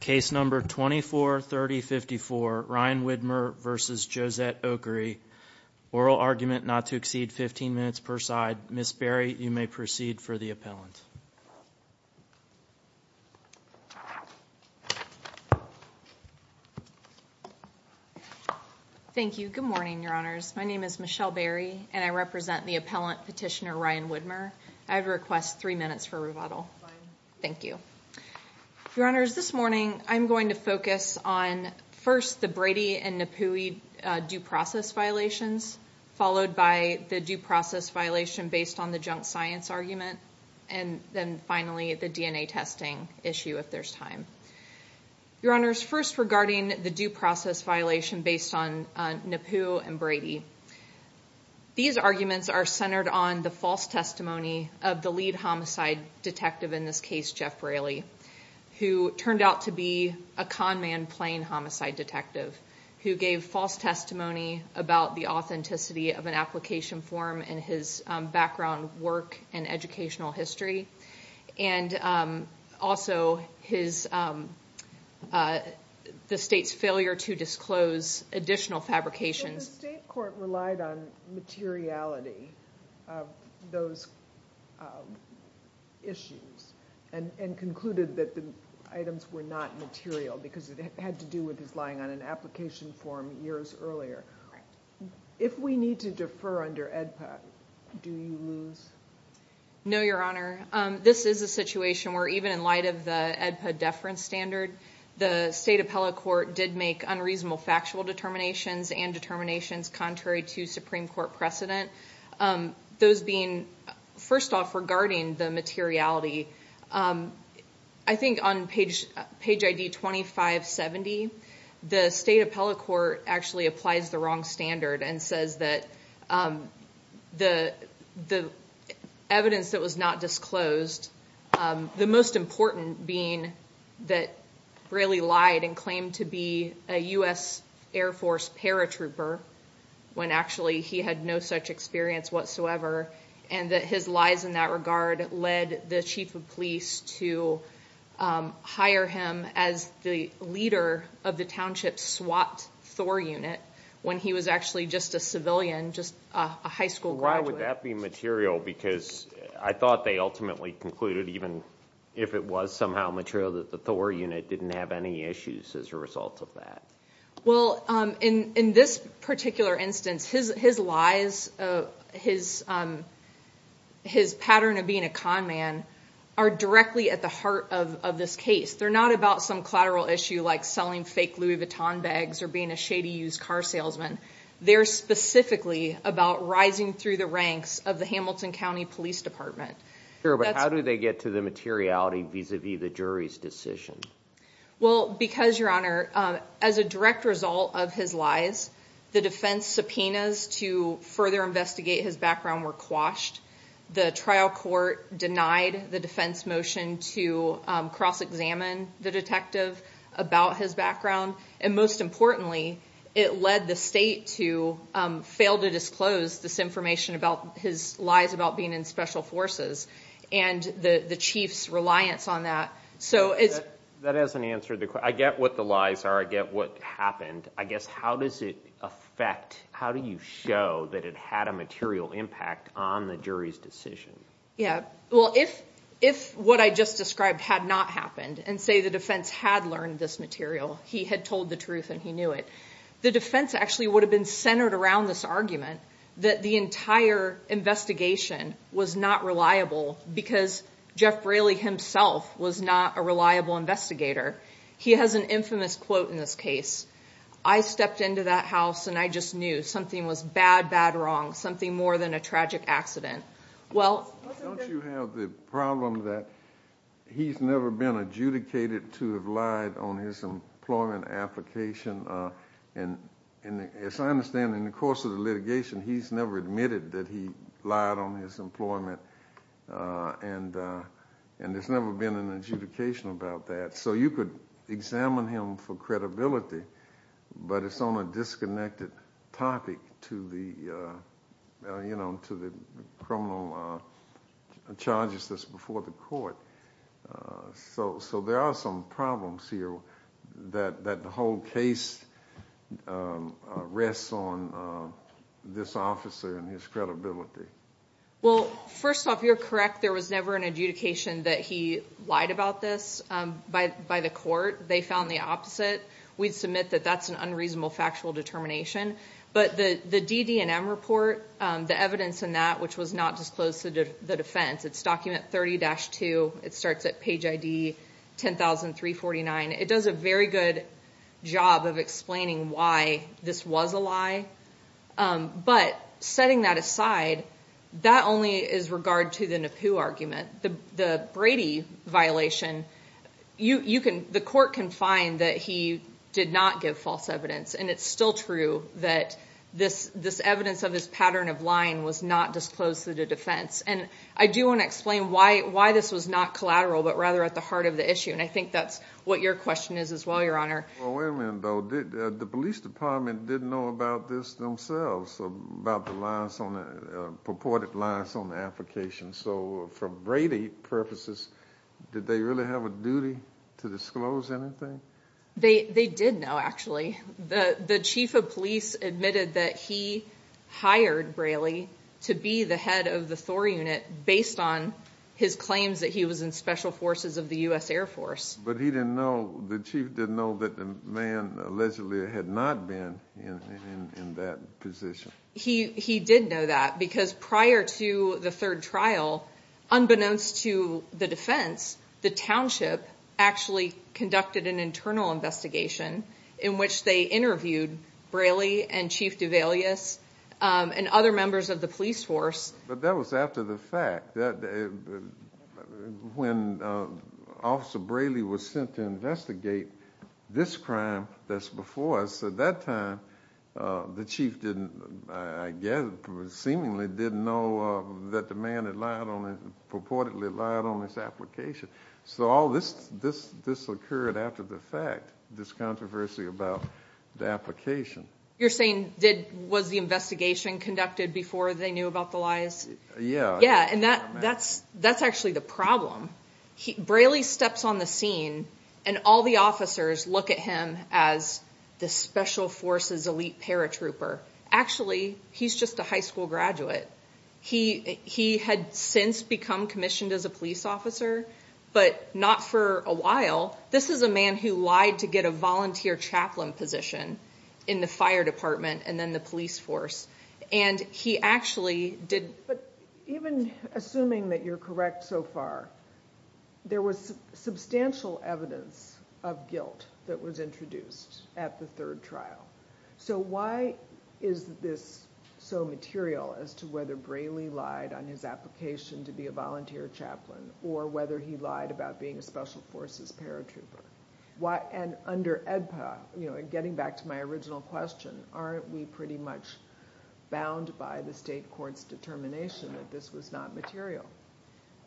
Case number 243054 Ryan Widmer v. Jossette Okereke. Oral argument not to exceed 15 minutes per side. Ms. Berry, you may proceed for the appellant. Thank you. Good morning, Your Honors. My name is Michelle Berry and I represent the appellant petitioner Ryan Widmer. I'd request three minutes for rebuttal. Fine. Thank you. Your Honors, this morning I'm going to focus on first the Brady and Napoui due process violations, followed by the due process violation based on the junk science argument, and then finally the DNA testing issue if there's time. Your Honors, first regarding the due process violation based on Napoui and Brady. These arguments are centered on the false testimony of the lead homicide detective in this case, Jeff Braley, who turned out to be a con man playing homicide detective, who gave false testimony about the authenticity of an application form and his background, work, and educational history, and also the state's failure to disclose additional fabrications. The state court relied on materiality of those issues and concluded that the items were not material because it had to do with his lying on an application form years earlier. If we need to defer under AEDPA, do you lose? No, Your Honor. This is a situation where even in light of the AEDPA deference standard, the state appellate court did make unreasonable factual determinations and determinations contrary to Supreme Court precedent. First off, regarding the materiality, I think on page ID 2570, the state appellate court actually applies the wrong standard and says that the evidence that was not disclosed, the most important being that Braley lied and claimed to be a U.S. Air Force paratrooper when actually he had no such experience whatsoever, and that his lies in that regard led the chief of police to hire him as the leader of the township SWAT Thor unit when he was actually just a civilian, just a high school graduate. Why would that be material? Because I thought they ultimately concluded, even if it was somehow material, that the Thor unit didn't have any issues as a result of that. Well, in this particular instance, his lies, his pattern of being a con man are directly at the heart of this case. They're not about some collateral issue like selling fake Louis Vuitton bags or being a shady used car salesman. They're specifically about rising through the ranks of the Hamilton County Police Department. Sure, but how do they get to the materiality vis-a-vis the jury's decision? Well, because, Your Honor, as a direct result of his lies, the defense subpoenas to further investigate his background were quashed. The trial court denied the defense motion to cross-examine the detective about his background, and most importantly, it led the state to fail to disclose this information about his lies about being in special forces and the chief's reliance on that. That hasn't answered the question. I get what the lies are. I get what happened. I guess how does it affect, how do you show that it had a material impact on the jury's decision? Yeah. Well, if what I just described had not happened, and say the defense had learned this material, he had told the truth and he knew it, the defense actually would have been centered around this argument that the entire investigation was not reliable because Jeff Braley himself was not a reliable investigator. He has an infamous quote in this case. I stepped into that house and I just knew something was bad, bad, wrong, something more than a tragic accident. Well, Don't you have the problem that he's never been adjudicated to have lied on his employment application? As I understand it, in the course of the litigation, he's never admitted that he lied on his employment, and there's never been an adjudication about that. So you could examine him for credibility, but it's on a disconnected topic to the criminal charges before the court. So there are some problems here that the whole case rests on this officer and his credibility. Well, first off, you're correct. There was never an adjudication that he lied about this by the court. They found the opposite. We'd submit that that's an unreasonable factual determination, but the DD&M report, the evidence in that, which was not disclosed to the defense, it's document 30-2. It starts at page ID 10349. It does a very good job of explaining why this was a lie, but setting that aside, that only is regard to the Napoo argument. The Brady violation, the court can find that he did not give false evidence, and it's still true that this evidence of his pattern of lying was not disclosed to the defense. I do want to explain why this was not collateral, but rather at the heart of the issue, and I think that's what your question is as well, Your Honor. Well, wait a minute, though. The police department didn't know about this themselves, about the purported lies on the application. So for Brady purposes, did they really have a duty to disclose anything? They did know, actually. The chief of police admitted that he hired Braley to be the head of the Thor unit based on his claims that he was in special forces of the U.S. Air Force. But he didn't know, the chief didn't know that the man allegedly had not been in that position. He did know that, because prior to the third trial, unbeknownst to the defense, the township actually conducted an internal investigation in which they interviewed Braley and Chief Duvalius and other members of the police force. But that was after the fact. When Officer Braley was sent to investigate this crime that's before us, at that time, the chief didn't, I guess, seemingly didn't know that the man had purportedly lied on his application. So all this occurred after the fact, this controversy about the application. You're saying, was the investigation conducted before they knew about the lies? Yeah, and that's actually the problem. Braley steps on the scene and all the officers look at him as the special forces elite paratrooper. Actually, he's just a high school graduate. He had since become commissioned as a police officer, but not for a while. This is a man who lied to get a volunteer chaplain position in the fire department and then the police force, and he actually did- But even assuming that you're correct so far, there was substantial evidence of guilt that was introduced at the third trial. So why is this so material as to whether Braley lied on his application to be a volunteer chaplain, or whether he lied about being a special forces paratrooper? And under EDPA, getting back to my original question, aren't we pretty much bound by the state court's determination that this was not material?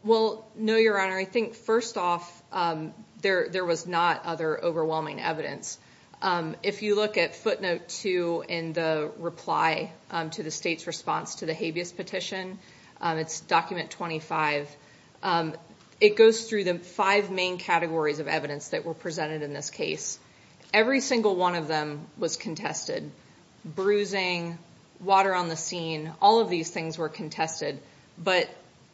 Well, no, Your Honor. I think, first off, there was not other overwhelming evidence. If you look at footnote two in the reply to the state's response to the habeas petition, it's document 25, it goes through the five main categories of evidence that were presented in this case. Every single one of them was contested. Bruising, water on the scene, all of these things were contested, but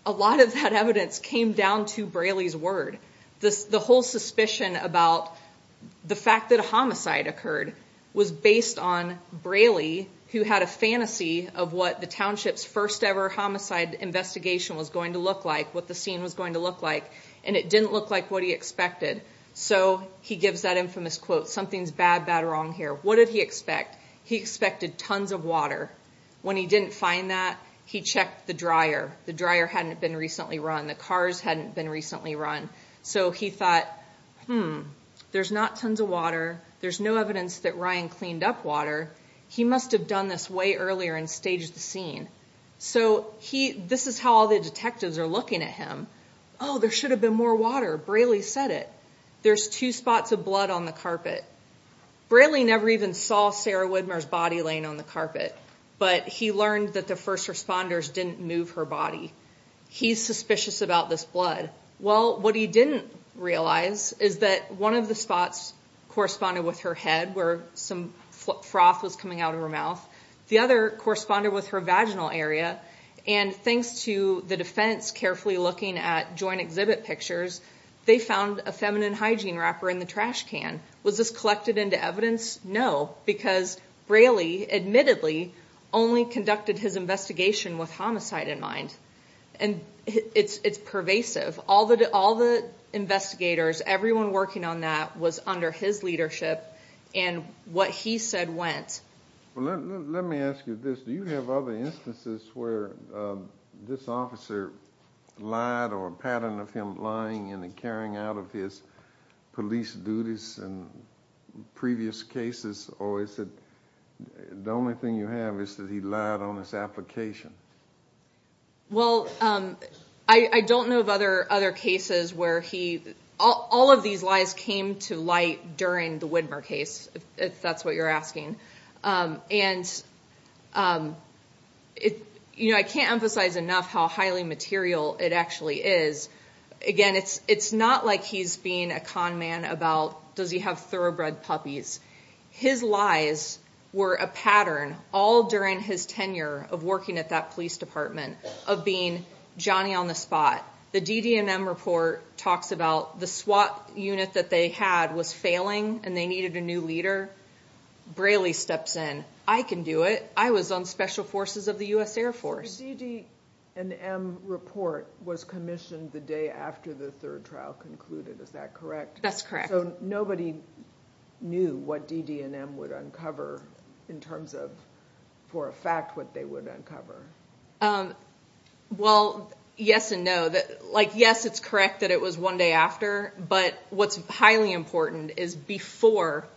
a lot of that evidence came down to Braley's word. The whole suspicion about the fact that a homicide occurred was based on Braley, who had a fantasy of what the township's first ever homicide investigation was going to look like, what the scene was going to look like, and it didn't look like what he expected. So he gives that infamous quote, something's bad, bad, wrong here. What did he expect? He expected tons of water. When he didn't find that, he checked the dryer. The dryer hadn't been recently run. The cars hadn't been recently run. So he thought, hmm, there's not tons of water. There's no evidence that Ryan cleaned up water. He must have done this way earlier and staged the scene. So this is how all the detectives are looking at him. Oh, there should have been more water. Braley said it. There's two spots of blood on the carpet. Braley never even saw Sarah Widmer's body laying on the carpet, but he learned that the first responders didn't move her body. He's suspicious about this blood. Well, what he didn't realize is that one of the spots corresponded with her head, where some froth was coming out of her mouth. The other corresponded with her vaginal area. And thanks to the defense carefully looking at joint exhibit pictures, they found a feminine hygiene wrapper in the trash can. Was this collected into evidence? No, because Braley admittedly only conducted his investigation with homicide in mind. And it's pervasive. All the investigators, everyone working on that was under his leadership, and what he said went. Let me ask you this. Do you have other instances where this officer lied or a pattern of him lying in the carrying out of his police duties in previous cases? Or is it the only thing you have is that he lied on his application? Well, I don't know of other cases where he lied. All of these lies came to light during the Widmer case, if that's what you're asking. And I can't emphasize enough how highly material it actually is. Again, it's not like he's being a con man about, does he have thoroughbred puppies? His lies were a pattern all during his tenure of working at that police department of being Johnny on the spot. The DDMM report talks about the SWAT unit that they had was failing and they needed a new leader. Braley steps in. I can do it. I was on special forces of the US Air Force. The DDMM report was commissioned the day after the third trial concluded, is that correct? That's correct. So nobody knew what DDMM would uncover in terms of, for a fact, what they would uncover? Well, yes and no. Yes, it's correct that it was one day after, but what's highly important is before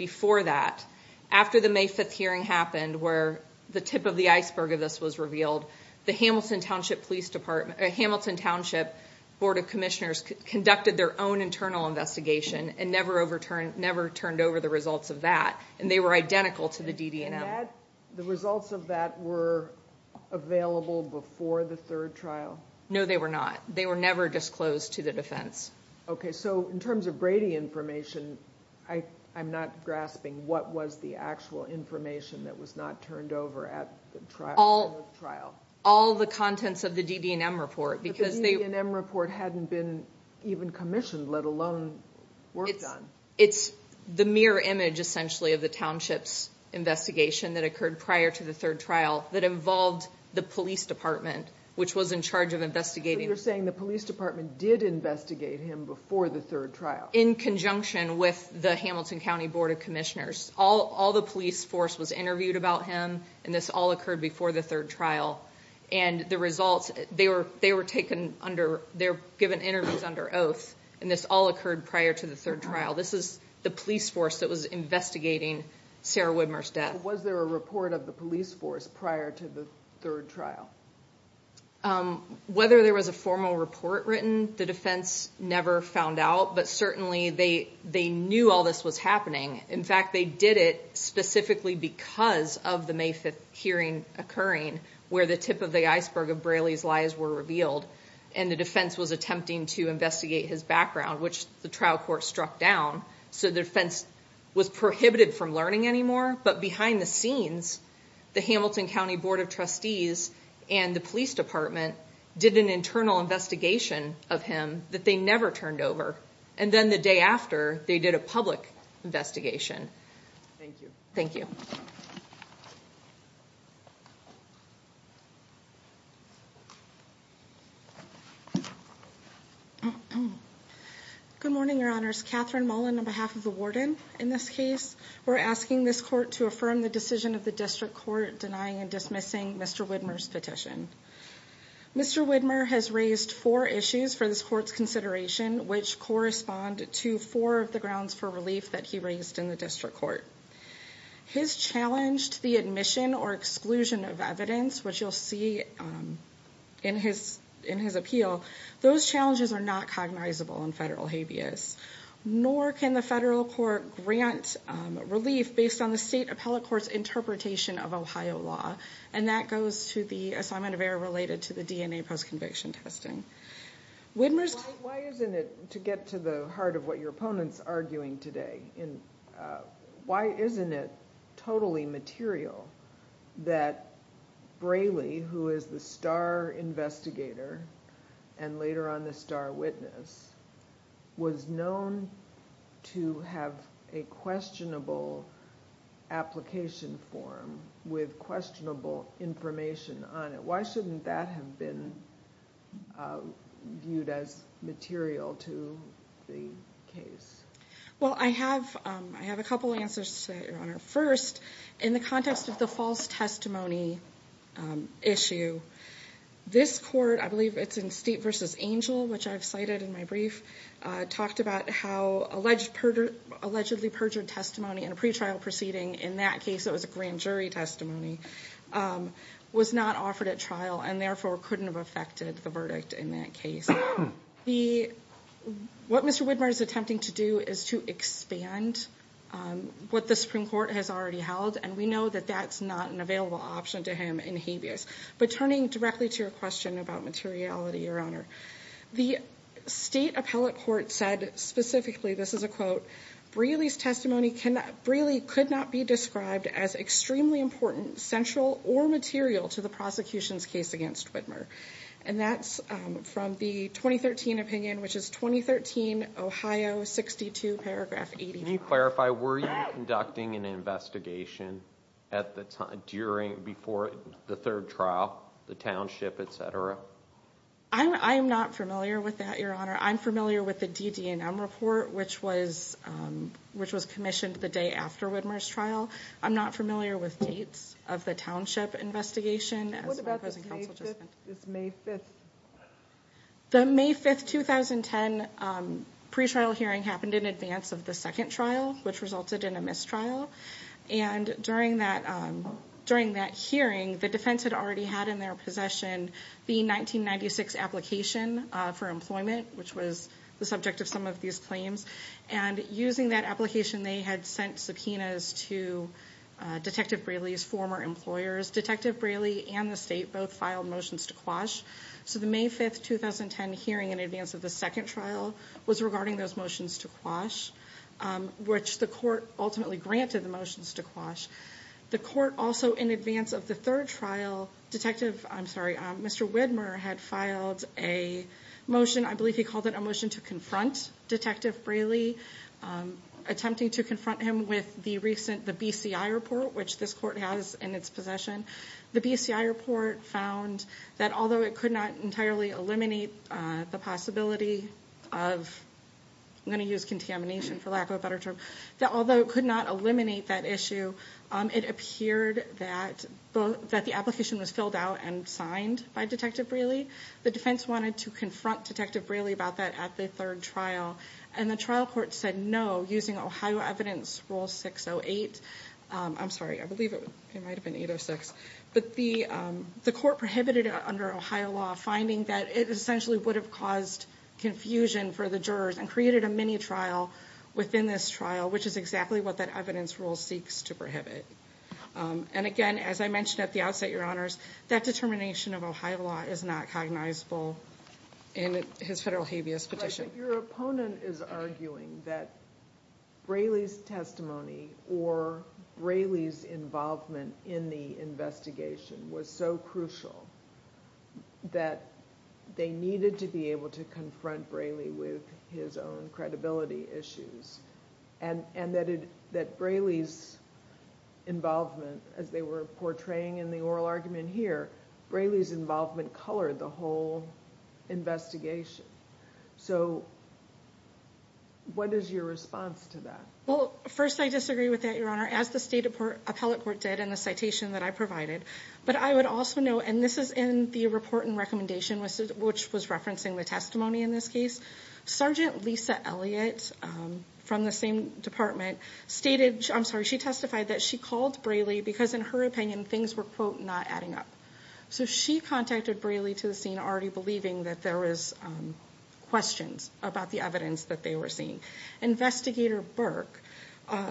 that, after the May 5th hearing happened where the tip of the iceberg of this was revealed, the Hamilton Township Board of Commissioners conducted their own internal investigation and never turned over the results of that. And they were identical to the DDMM. The results of that were available before the third trial? No, they were not. They were never disclosed to the defense. Okay, so in terms of Brady information, I'm not grasping what was the actual information that was not turned over at the end of the trial. All the contents of the DDMM report. But the DDMM report hadn't been even commissioned, let alone worked on. It's the mirror image, essentially, of the township's investigation that occurred prior to the third trial that involved the police department, which was in charge of investigating. So you're saying the police department did investigate him before the third trial? In conjunction with the Hamilton County Board of Commissioners. All the police force was interviewed about him, and this all occurred before the third trial. And the results, they were taken under, they were given interviews under oath, and this all occurred prior to the third trial. This is the police force that was investigating Sarah Widmer's death. But was there a report of the police force prior to the third trial? Whether there was a formal report written, the defense never found out. But certainly, they knew all this was happening. In fact, they did it specifically because of the May 5th hearing occurring, where the tip of the iceberg of Braley's lies were revealed. And the defense was attempting to investigate his background, which the trial court struck down. So the defense was prohibited from learning anymore, but behind the scenes, the Hamilton County Board of Trustees and the police department did an internal investigation of him that they never turned over. And then the day after, they did a public investigation. Thank you. Good morning, Your Honors. Catherine Mullen on behalf of the warden. In this case, we're asking this court to affirm the decision of the district court denying and dismissing Mr. Widmer's petition. Mr. Widmer has raised four issues for this court's consideration, which correspond to four of the grounds for relief that he raised in the district court. His challenge to the admission or exclusion of evidence, which you'll see in his appeal, those challenges are not cognizable in federal habeas. Nor can the federal court grant relief based on the state appellate court's interpretation of Ohio law. And that goes to the assignment of error related to the DNA post-conviction testing. Why isn't it, to get to the heart of what your opponent's arguing today, why isn't it totally material that Braley, who is the star investigator and later on the star witness, was known to have a questionable application form with questionable information on it? Why shouldn't that have been viewed as material to the case? Well, I have a couple answers to that, Your Honor. First, in the context of the false testimony issue, this court, I believe it's in Steep v. Angel, which I've cited in my brief, talked about how allegedly perjured testimony in a pretrial proceeding, in that case it was a grand jury testimony, was not offered at trial and therefore couldn't have affected the verdict in that case. What Mr. Widmer is attempting to do is to expand what the Supreme Court has already held, and we know that that's not an available option to him in habeas. But turning directly to your question about materiality, Your Honor, the state appellate court said specifically, this is a quote, Braley's testimony could not be described as extremely important, central, or material to the prosecution's case against Widmer. And that's from the 2013 opinion, which is 2013 Ohio 62 paragraph 84. Can you clarify, were you conducting an investigation at the time, during, before the third trial, the township, etc.? I'm not familiar with that, Your Honor. I'm familiar with the DD&M report, which was commissioned the day after Widmer's trial. I'm not familiar with dates of the township investigation. What about the May 5th? The May 5th, 2010, pretrial hearing happened in advance of the second trial, which resulted in a mistrial. And during that hearing, the defense had already had in their possession the 1996 application for employment, which was the subject of some of these claims. And using that application, they had sent subpoenas to Detective Braley's former employers. Detective Braley and the state both filed motions to quash. So the May 5th, 2010 hearing in advance of the second trial was regarding those motions to quash, which the court ultimately granted the motions to quash. The court also, in advance of the third trial, Detective, I'm sorry, Mr. Widmer had filed a motion, I believe he called it a motion to confront Detective Braley, attempting to confront him with the recent, the BCI report, which this court has in its possession. The BCI report found that although it could not entirely eliminate the possibility of, I'm going to use contamination for lack of a better term, that although it could not eliminate that issue, it appeared that the application was filled out and signed by Detective Braley. The defense wanted to confront Detective Braley about that at the third trial. And the trial court said no, using Ohio Evidence Rule 608. I'm sorry, I believe it might have been 806. But the court prohibited it under Ohio law, finding that it essentially would have caused confusion for the jurors and created a mini trial within this trial, which is exactly what that evidence rule seeks to prohibit. And again, as I mentioned at the outset, Your Honor, it's not recognizable in his federal habeas petition. But your opponent is arguing that Braley's testimony or Braley's involvement in the investigation was so crucial that they needed to be able to confront Braley with his own credibility issues. And that Braley's involvement, as they were portraying in the oral argument here, Braley's involvement colored the whole investigation. So what is your response to that? Well, first I disagree with that, Your Honor, as the state appellate court did in the citation that I provided. But I would also note, and this is in the report and recommendation, which was referencing the testimony in this case, Sergeant Lisa Elliott from the same department stated, I'm sorry, she testified that she called Braley because in her opinion things were, quote, not adding up. So she contacted Braley to the scene already believing that there was questions about the evidence that they were seeing. Investigator Burke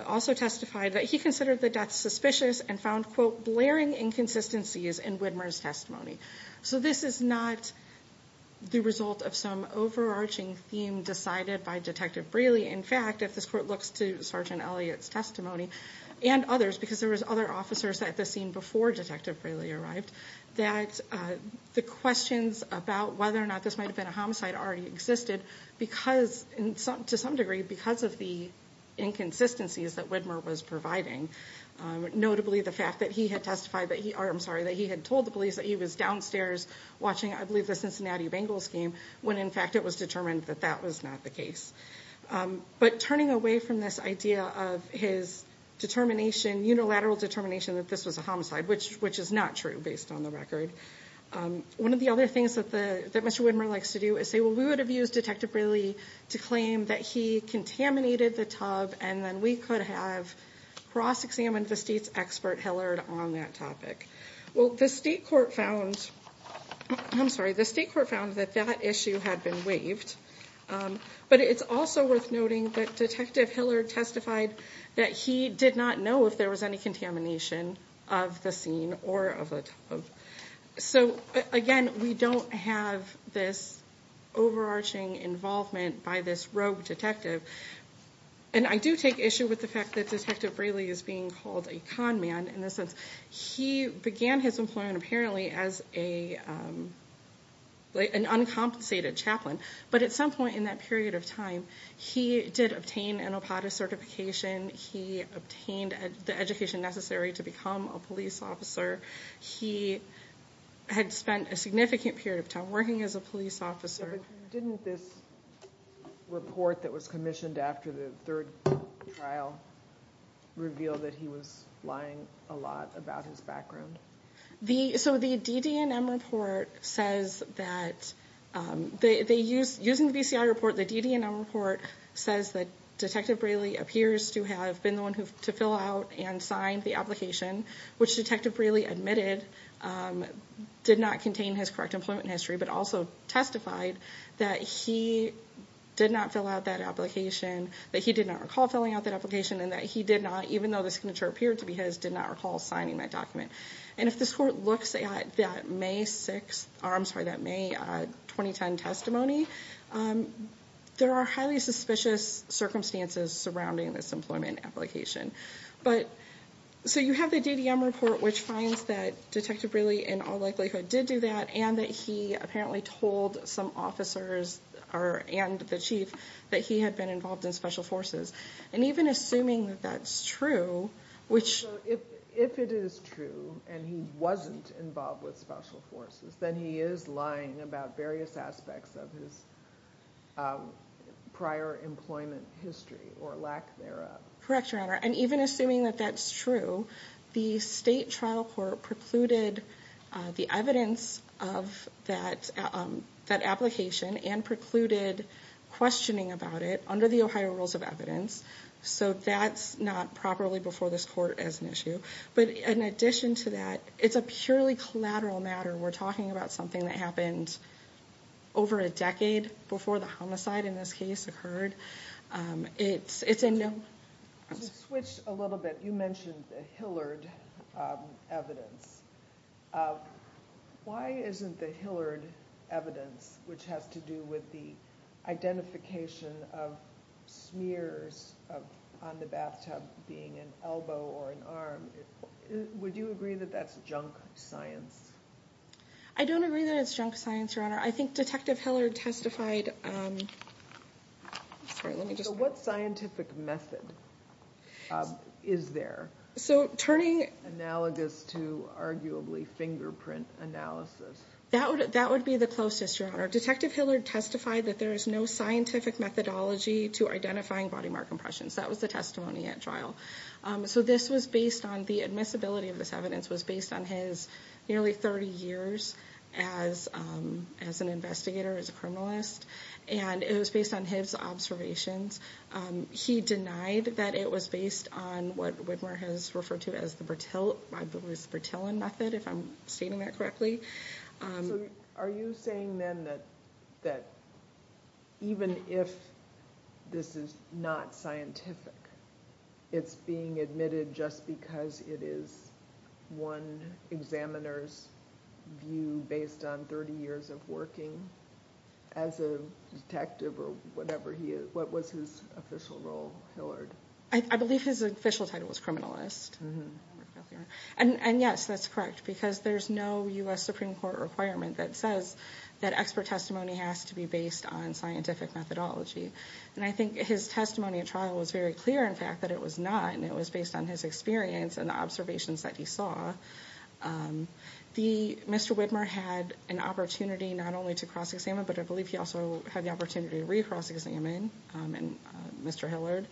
also testified that he considered the death suspicious and found, quote, blaring inconsistencies in Widmer's testimony. So this is not the result of some overarching theme decided by Detective Braley. In fact, if this court looks to Sergeant Elliott's testimony and others, because there was other officers at the scene before Detective Braley arrived, that the questions about whether or not this might have been a homicide already existed because, to some degree, because of the inconsistencies that Widmer was providing. Notably, the fact that he had testified that he, or I'm sorry, that he had told the police that he was downstairs watching, I believe, the Cincinnati Bengals game, when in fact it was determined that that was not the case. But turning away from this idea of his determination, unilateral determination that this was a homicide, which is not true based on the record. One of the other things that Mr. Widmer likes to do is say, well, we would have used Detective Braley to claim that he contaminated the tub and then we could have cross-examined the state's expert Hillard on that topic. Well, the state court found, I'm sorry, the state court found that that issue had been waived. But it's also worth noting that Detective Hillard testified that he did not know if there was any contamination of the scene or of the tub. So, again, we don't have this overarching involvement by this rogue detective. And I do take issue with the fact that Detective Braley is being called a con man in the sense he began his employment, apparently, as an uncompensated chaplain. But at some point in that period of time, he did obtain an OPADA certification. He obtained the education necessary to become a police officer. He had spent a significant period of time working as a police officer. Yeah, but didn't this report that was commissioned after the third trial reveal that he was lying a lot about his background? So, the DDNM report says that, using the BCI report, the DDNM report says that Detective Braley appears to have been the one to fill out and sign the application, which Detective Braley admitted did not contain his correct employment history, but also testified that he did not fill out that application, that he did not recall filling out that application, and that he did not, even though the signature appeared to be his, did not recall signing that document. And if this court looks at that May 6th, I'm sorry, that May 2010 testimony, there are highly suspicious circumstances surrounding this employment application. But, so you have the DDNM report, which finds that Detective Braley, in all likelihood, did do that, and that he apparently told some officers and the chief that he had been involved in Special Forces. And even assuming that that's true, which... If it is true, and he wasn't involved with Special Forces, then he is lying about various aspects of his prior employment history, or lack thereof. Correct, Your Honor. And even assuming that that's true, the state trial court precluded the evidence of that application, and precluded questioning about it, under the Ohio Rules of Evidence. So that's not properly before this court as an issue. But in addition to that, it's a purely collateral matter. We're talking about something that happened over a decade before the homicide, in this case, occurred. It's a no... To switch a little bit, you mentioned the Hillard evidence. Why isn't the Hillard evidence, which has to do with the identification of smears on the bathtub, being an elbow or an arm, would you agree that that's junk science? I don't agree that it's junk science, Your Honor. I think Detective Hillard testified... Sorry, let me just... So what scientific method is there, analogous to arguably fingerprint analysis? That would be the closest, Your Honor. Detective Hillard testified that there is no scientific methodology to identifying body mark impressions. That was the testimony at trial. So this was based on... The admissibility of this evidence was based on his nearly 30 years as an investigator, as a criminalist, and it was based on his observations. He denied that it was based on what Widmer has referred to as the Bertillon method, if I'm stating that correctly. Are you saying then that even if this is not scientific, it's being admitted just because it is one examiner's view based on 30 years of working as a detective or whatever he... What was his official role, Hillard? I believe his official title was criminalist. And yes, that's correct, because there's no U.S. Supreme Court requirement that says that expert testimony has to be based on scientific methodology. And I think his testimony at trial was very clear, in fact, that it was not, and it was based on his experience and the observations that he saw. Mr. Widmer had an opportunity not only to cross-examine, but I believe he also had the opportunity to re-cross-examine Mr. Hillard.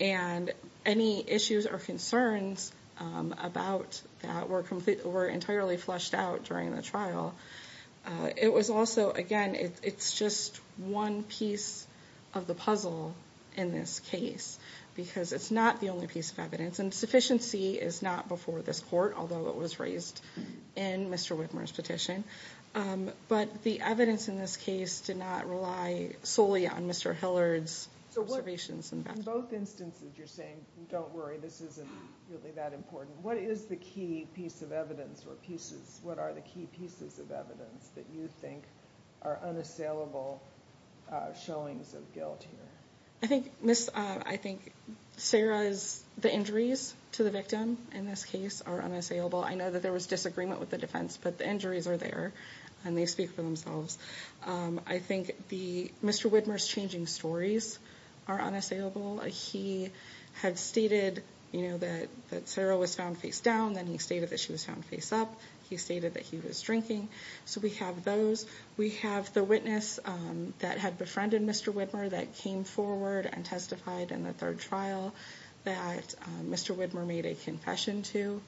And any issues or concerns about that were entirely flushed out during the trial. It was also, again, it's just one piece of the puzzle in this case, because it's not the only piece of evidence. And sufficiency is not before this court, although it was raised in Mr. Widmer's petition. But the evidence in this case did not rely solely on Mr. Hillard's observations. In both instances, you're saying, don't worry, this isn't really that important. What is the key piece of evidence or pieces, what are the key pieces of evidence that you think are unassailable showings of guilt here? I think Sarah's, the injuries to the victim in this case are unassailable. I know that there was disagreement with the defense, but the injuries are there, and they speak for themselves. I think Mr. Widmer's changing stories are unassailable. He had stated that Sarah was found face down, then he stated that she was found face up, he stated that he was drinking. So we have those. We have the witness that had befriended Mr. Widmer that came forward and testified in the third trial that Mr. Widmer made a confession to.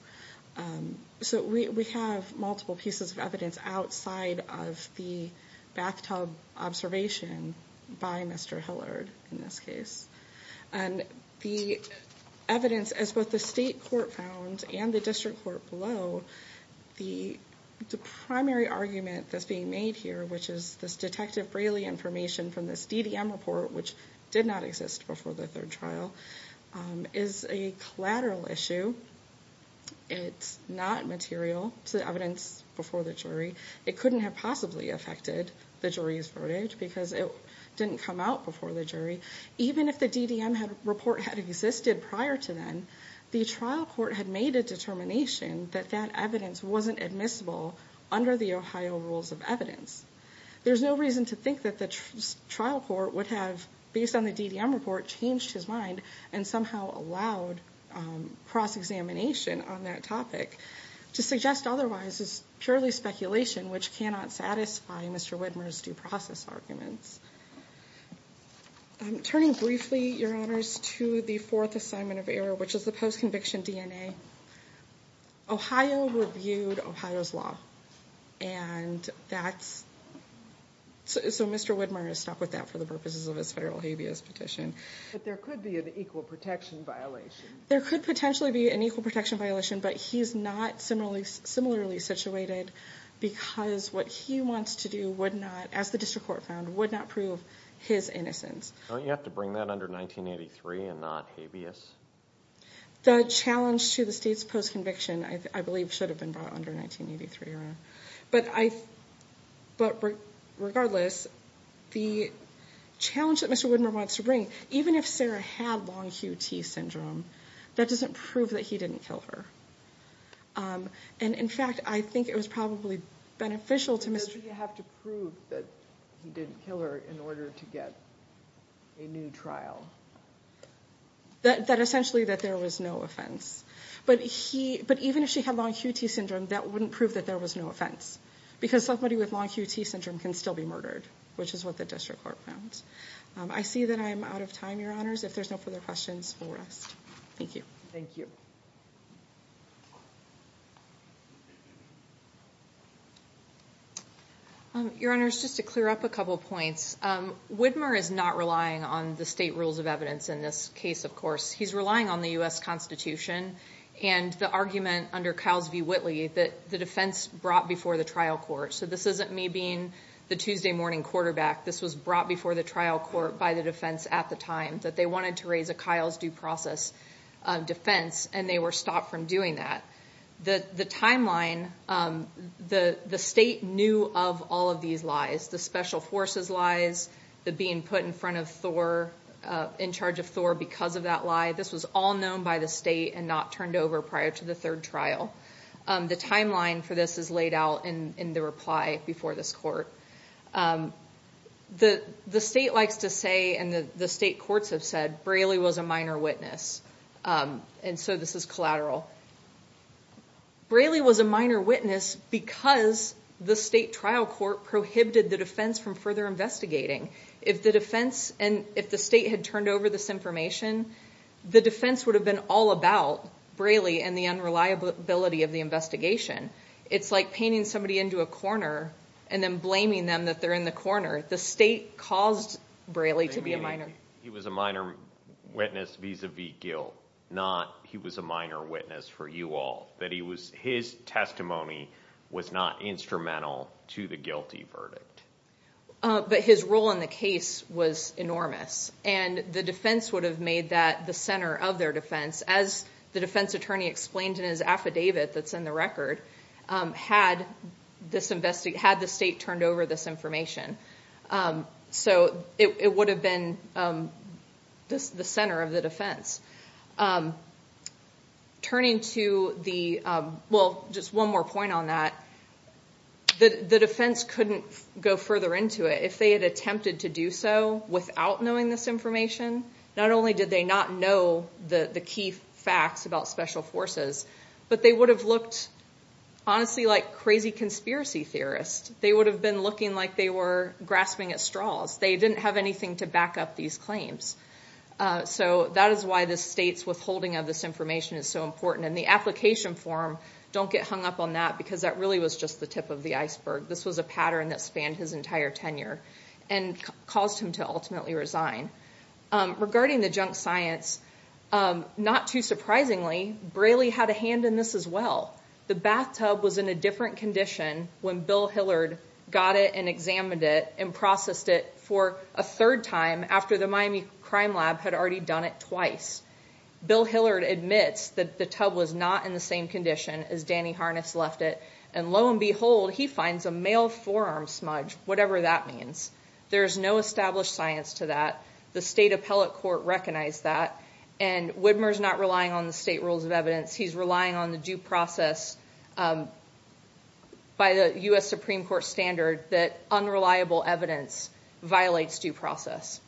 So we have multiple pieces of evidence outside of the bathtub observation by Mr. Hillard in this case. And the evidence, as both the state court found and the district court below, the primary argument that's being made here, which is this Detective Braley information from this DDM report, which did not exist before the third trial, is a collateral issue. It's not material. It's the evidence before the jury. It couldn't have possibly affected the jury's verdict because it didn't come out before the jury. Even if the DDM report had existed prior to then, the trial court had made a determination that that evidence wasn't admissible under the Ohio rules of evidence. There's no reason to think that the trial court would have, based on the DDM report, changed his mind and somehow allowed cross-examination on that topic. To suggest otherwise is purely speculation, which cannot satisfy Mr. Widmer's due process arguments. Turning briefly, Your Honors, to the fourth assignment of error, which is the post-conviction DNA. Ohio reviewed Ohio's law. And that's So Mr. Widmer is stuck with that for the purposes of his federal habeas petition. But there could be an equal protection violation. There could potentially be an equal protection violation, but he's not similarly situated because what he wants to do would not, as the district court found, would not prove his innocence. Don't you have to bring that under 1983 and not habeas? The challenge to the state's post-conviction, I believe, should have been brought under 1983, Your Honor. But regardless, the challenge that Mr. Widmer wants to bring, even if Sarah had long QT syndrome, that doesn't prove that he didn't kill her. And in fact, I think it was probably beneficial to Mr. Does he have to prove that he didn't kill her in order to get a new trial? That essentially that there was no offense. But even if she had long QT syndrome, that wouldn't prove that there was no offense. Because somebody with long QT syndrome can still be murdered, which is what the district court found. I see that I'm out of time, Your Honors. If there's no further questions, we'll rest. Thank you. Thank you. Your Honors, just to clear up a couple of points. Widmer is not relying on the state rules of evidence in this case, of course. He's relying on the U.S. Constitution and the argument under Kyle's v. Whitley that the defense brought before the trial court. So this isn't me being the Tuesday morning quarterback. This was brought before the trial court by the defense at the time, that they wanted to raise a Kyle's due process defense, and they were stopped from doing that. The timeline, the state knew of all of these lies, the special forces lies, the being put in front of Thor, in charge of Thor because of that lie. This was all known by the state and not turned over prior to the third trial. The timeline for this is laid out in the reply before this court. The state likes to say, and the state courts have said, Braley was a minor witness, and so this is collateral. Braley was a minor witness because the state trial court prohibited the defense from further investigating. If the defense, and if the state had turned over this information, the defense would have been all about Braley and the unreliability of the investigation. It's like painting somebody into a corner and then blaming them that they're in the corner. The state caused Braley to be a minor. He was a minor witness vis-a-vis guilt, not he was a minor witness for you all, that his testimony was not instrumental to the guilty verdict. But his role in the case was enormous, and the defense would have made that the center of their defense, as the defense attorney explained in his affidavit that's in the record, had the state turned over this information. It would have been the center of the defense. Turning to the... Well, just one more point on that. The defense couldn't go further into it. If they had attempted to do so without knowing this information, not only did they not know the key facts about special forces, but they would have looked honestly like crazy conspiracy theorists. They would have been looking like they were grasping at straws. They didn't have anything to back up these claims. That is why the state's withholding of this information is so important. The application form, don't get hung up on that because that really was just the tip of the iceberg. This was a pattern that spanned his entire tenure and caused him to ultimately resign. Regarding the junk science, not too surprisingly, Braley had a hand in this as well. The bathtub was in a different condition when Bill Hillard got it and examined it and processed it for a third time after the Miami Crime Lab had already done it twice. Bill Hillard admits that the tub was not in the same condition as Danny Harness left it, and lo and behold, he finds a male forearm smudge, whatever that means. There's no established science to that. The state appellate court recognized that, and Widmer's not relying on the state rules of evidence. He's relying on the due process by the U.S. Supreme Court standard that unreliable evidence violates due process.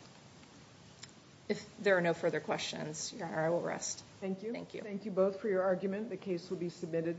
If there are no further questions, Your Honor, I will rest. Thank you. Thank you. Thank you both for your argument. The case will be submitted.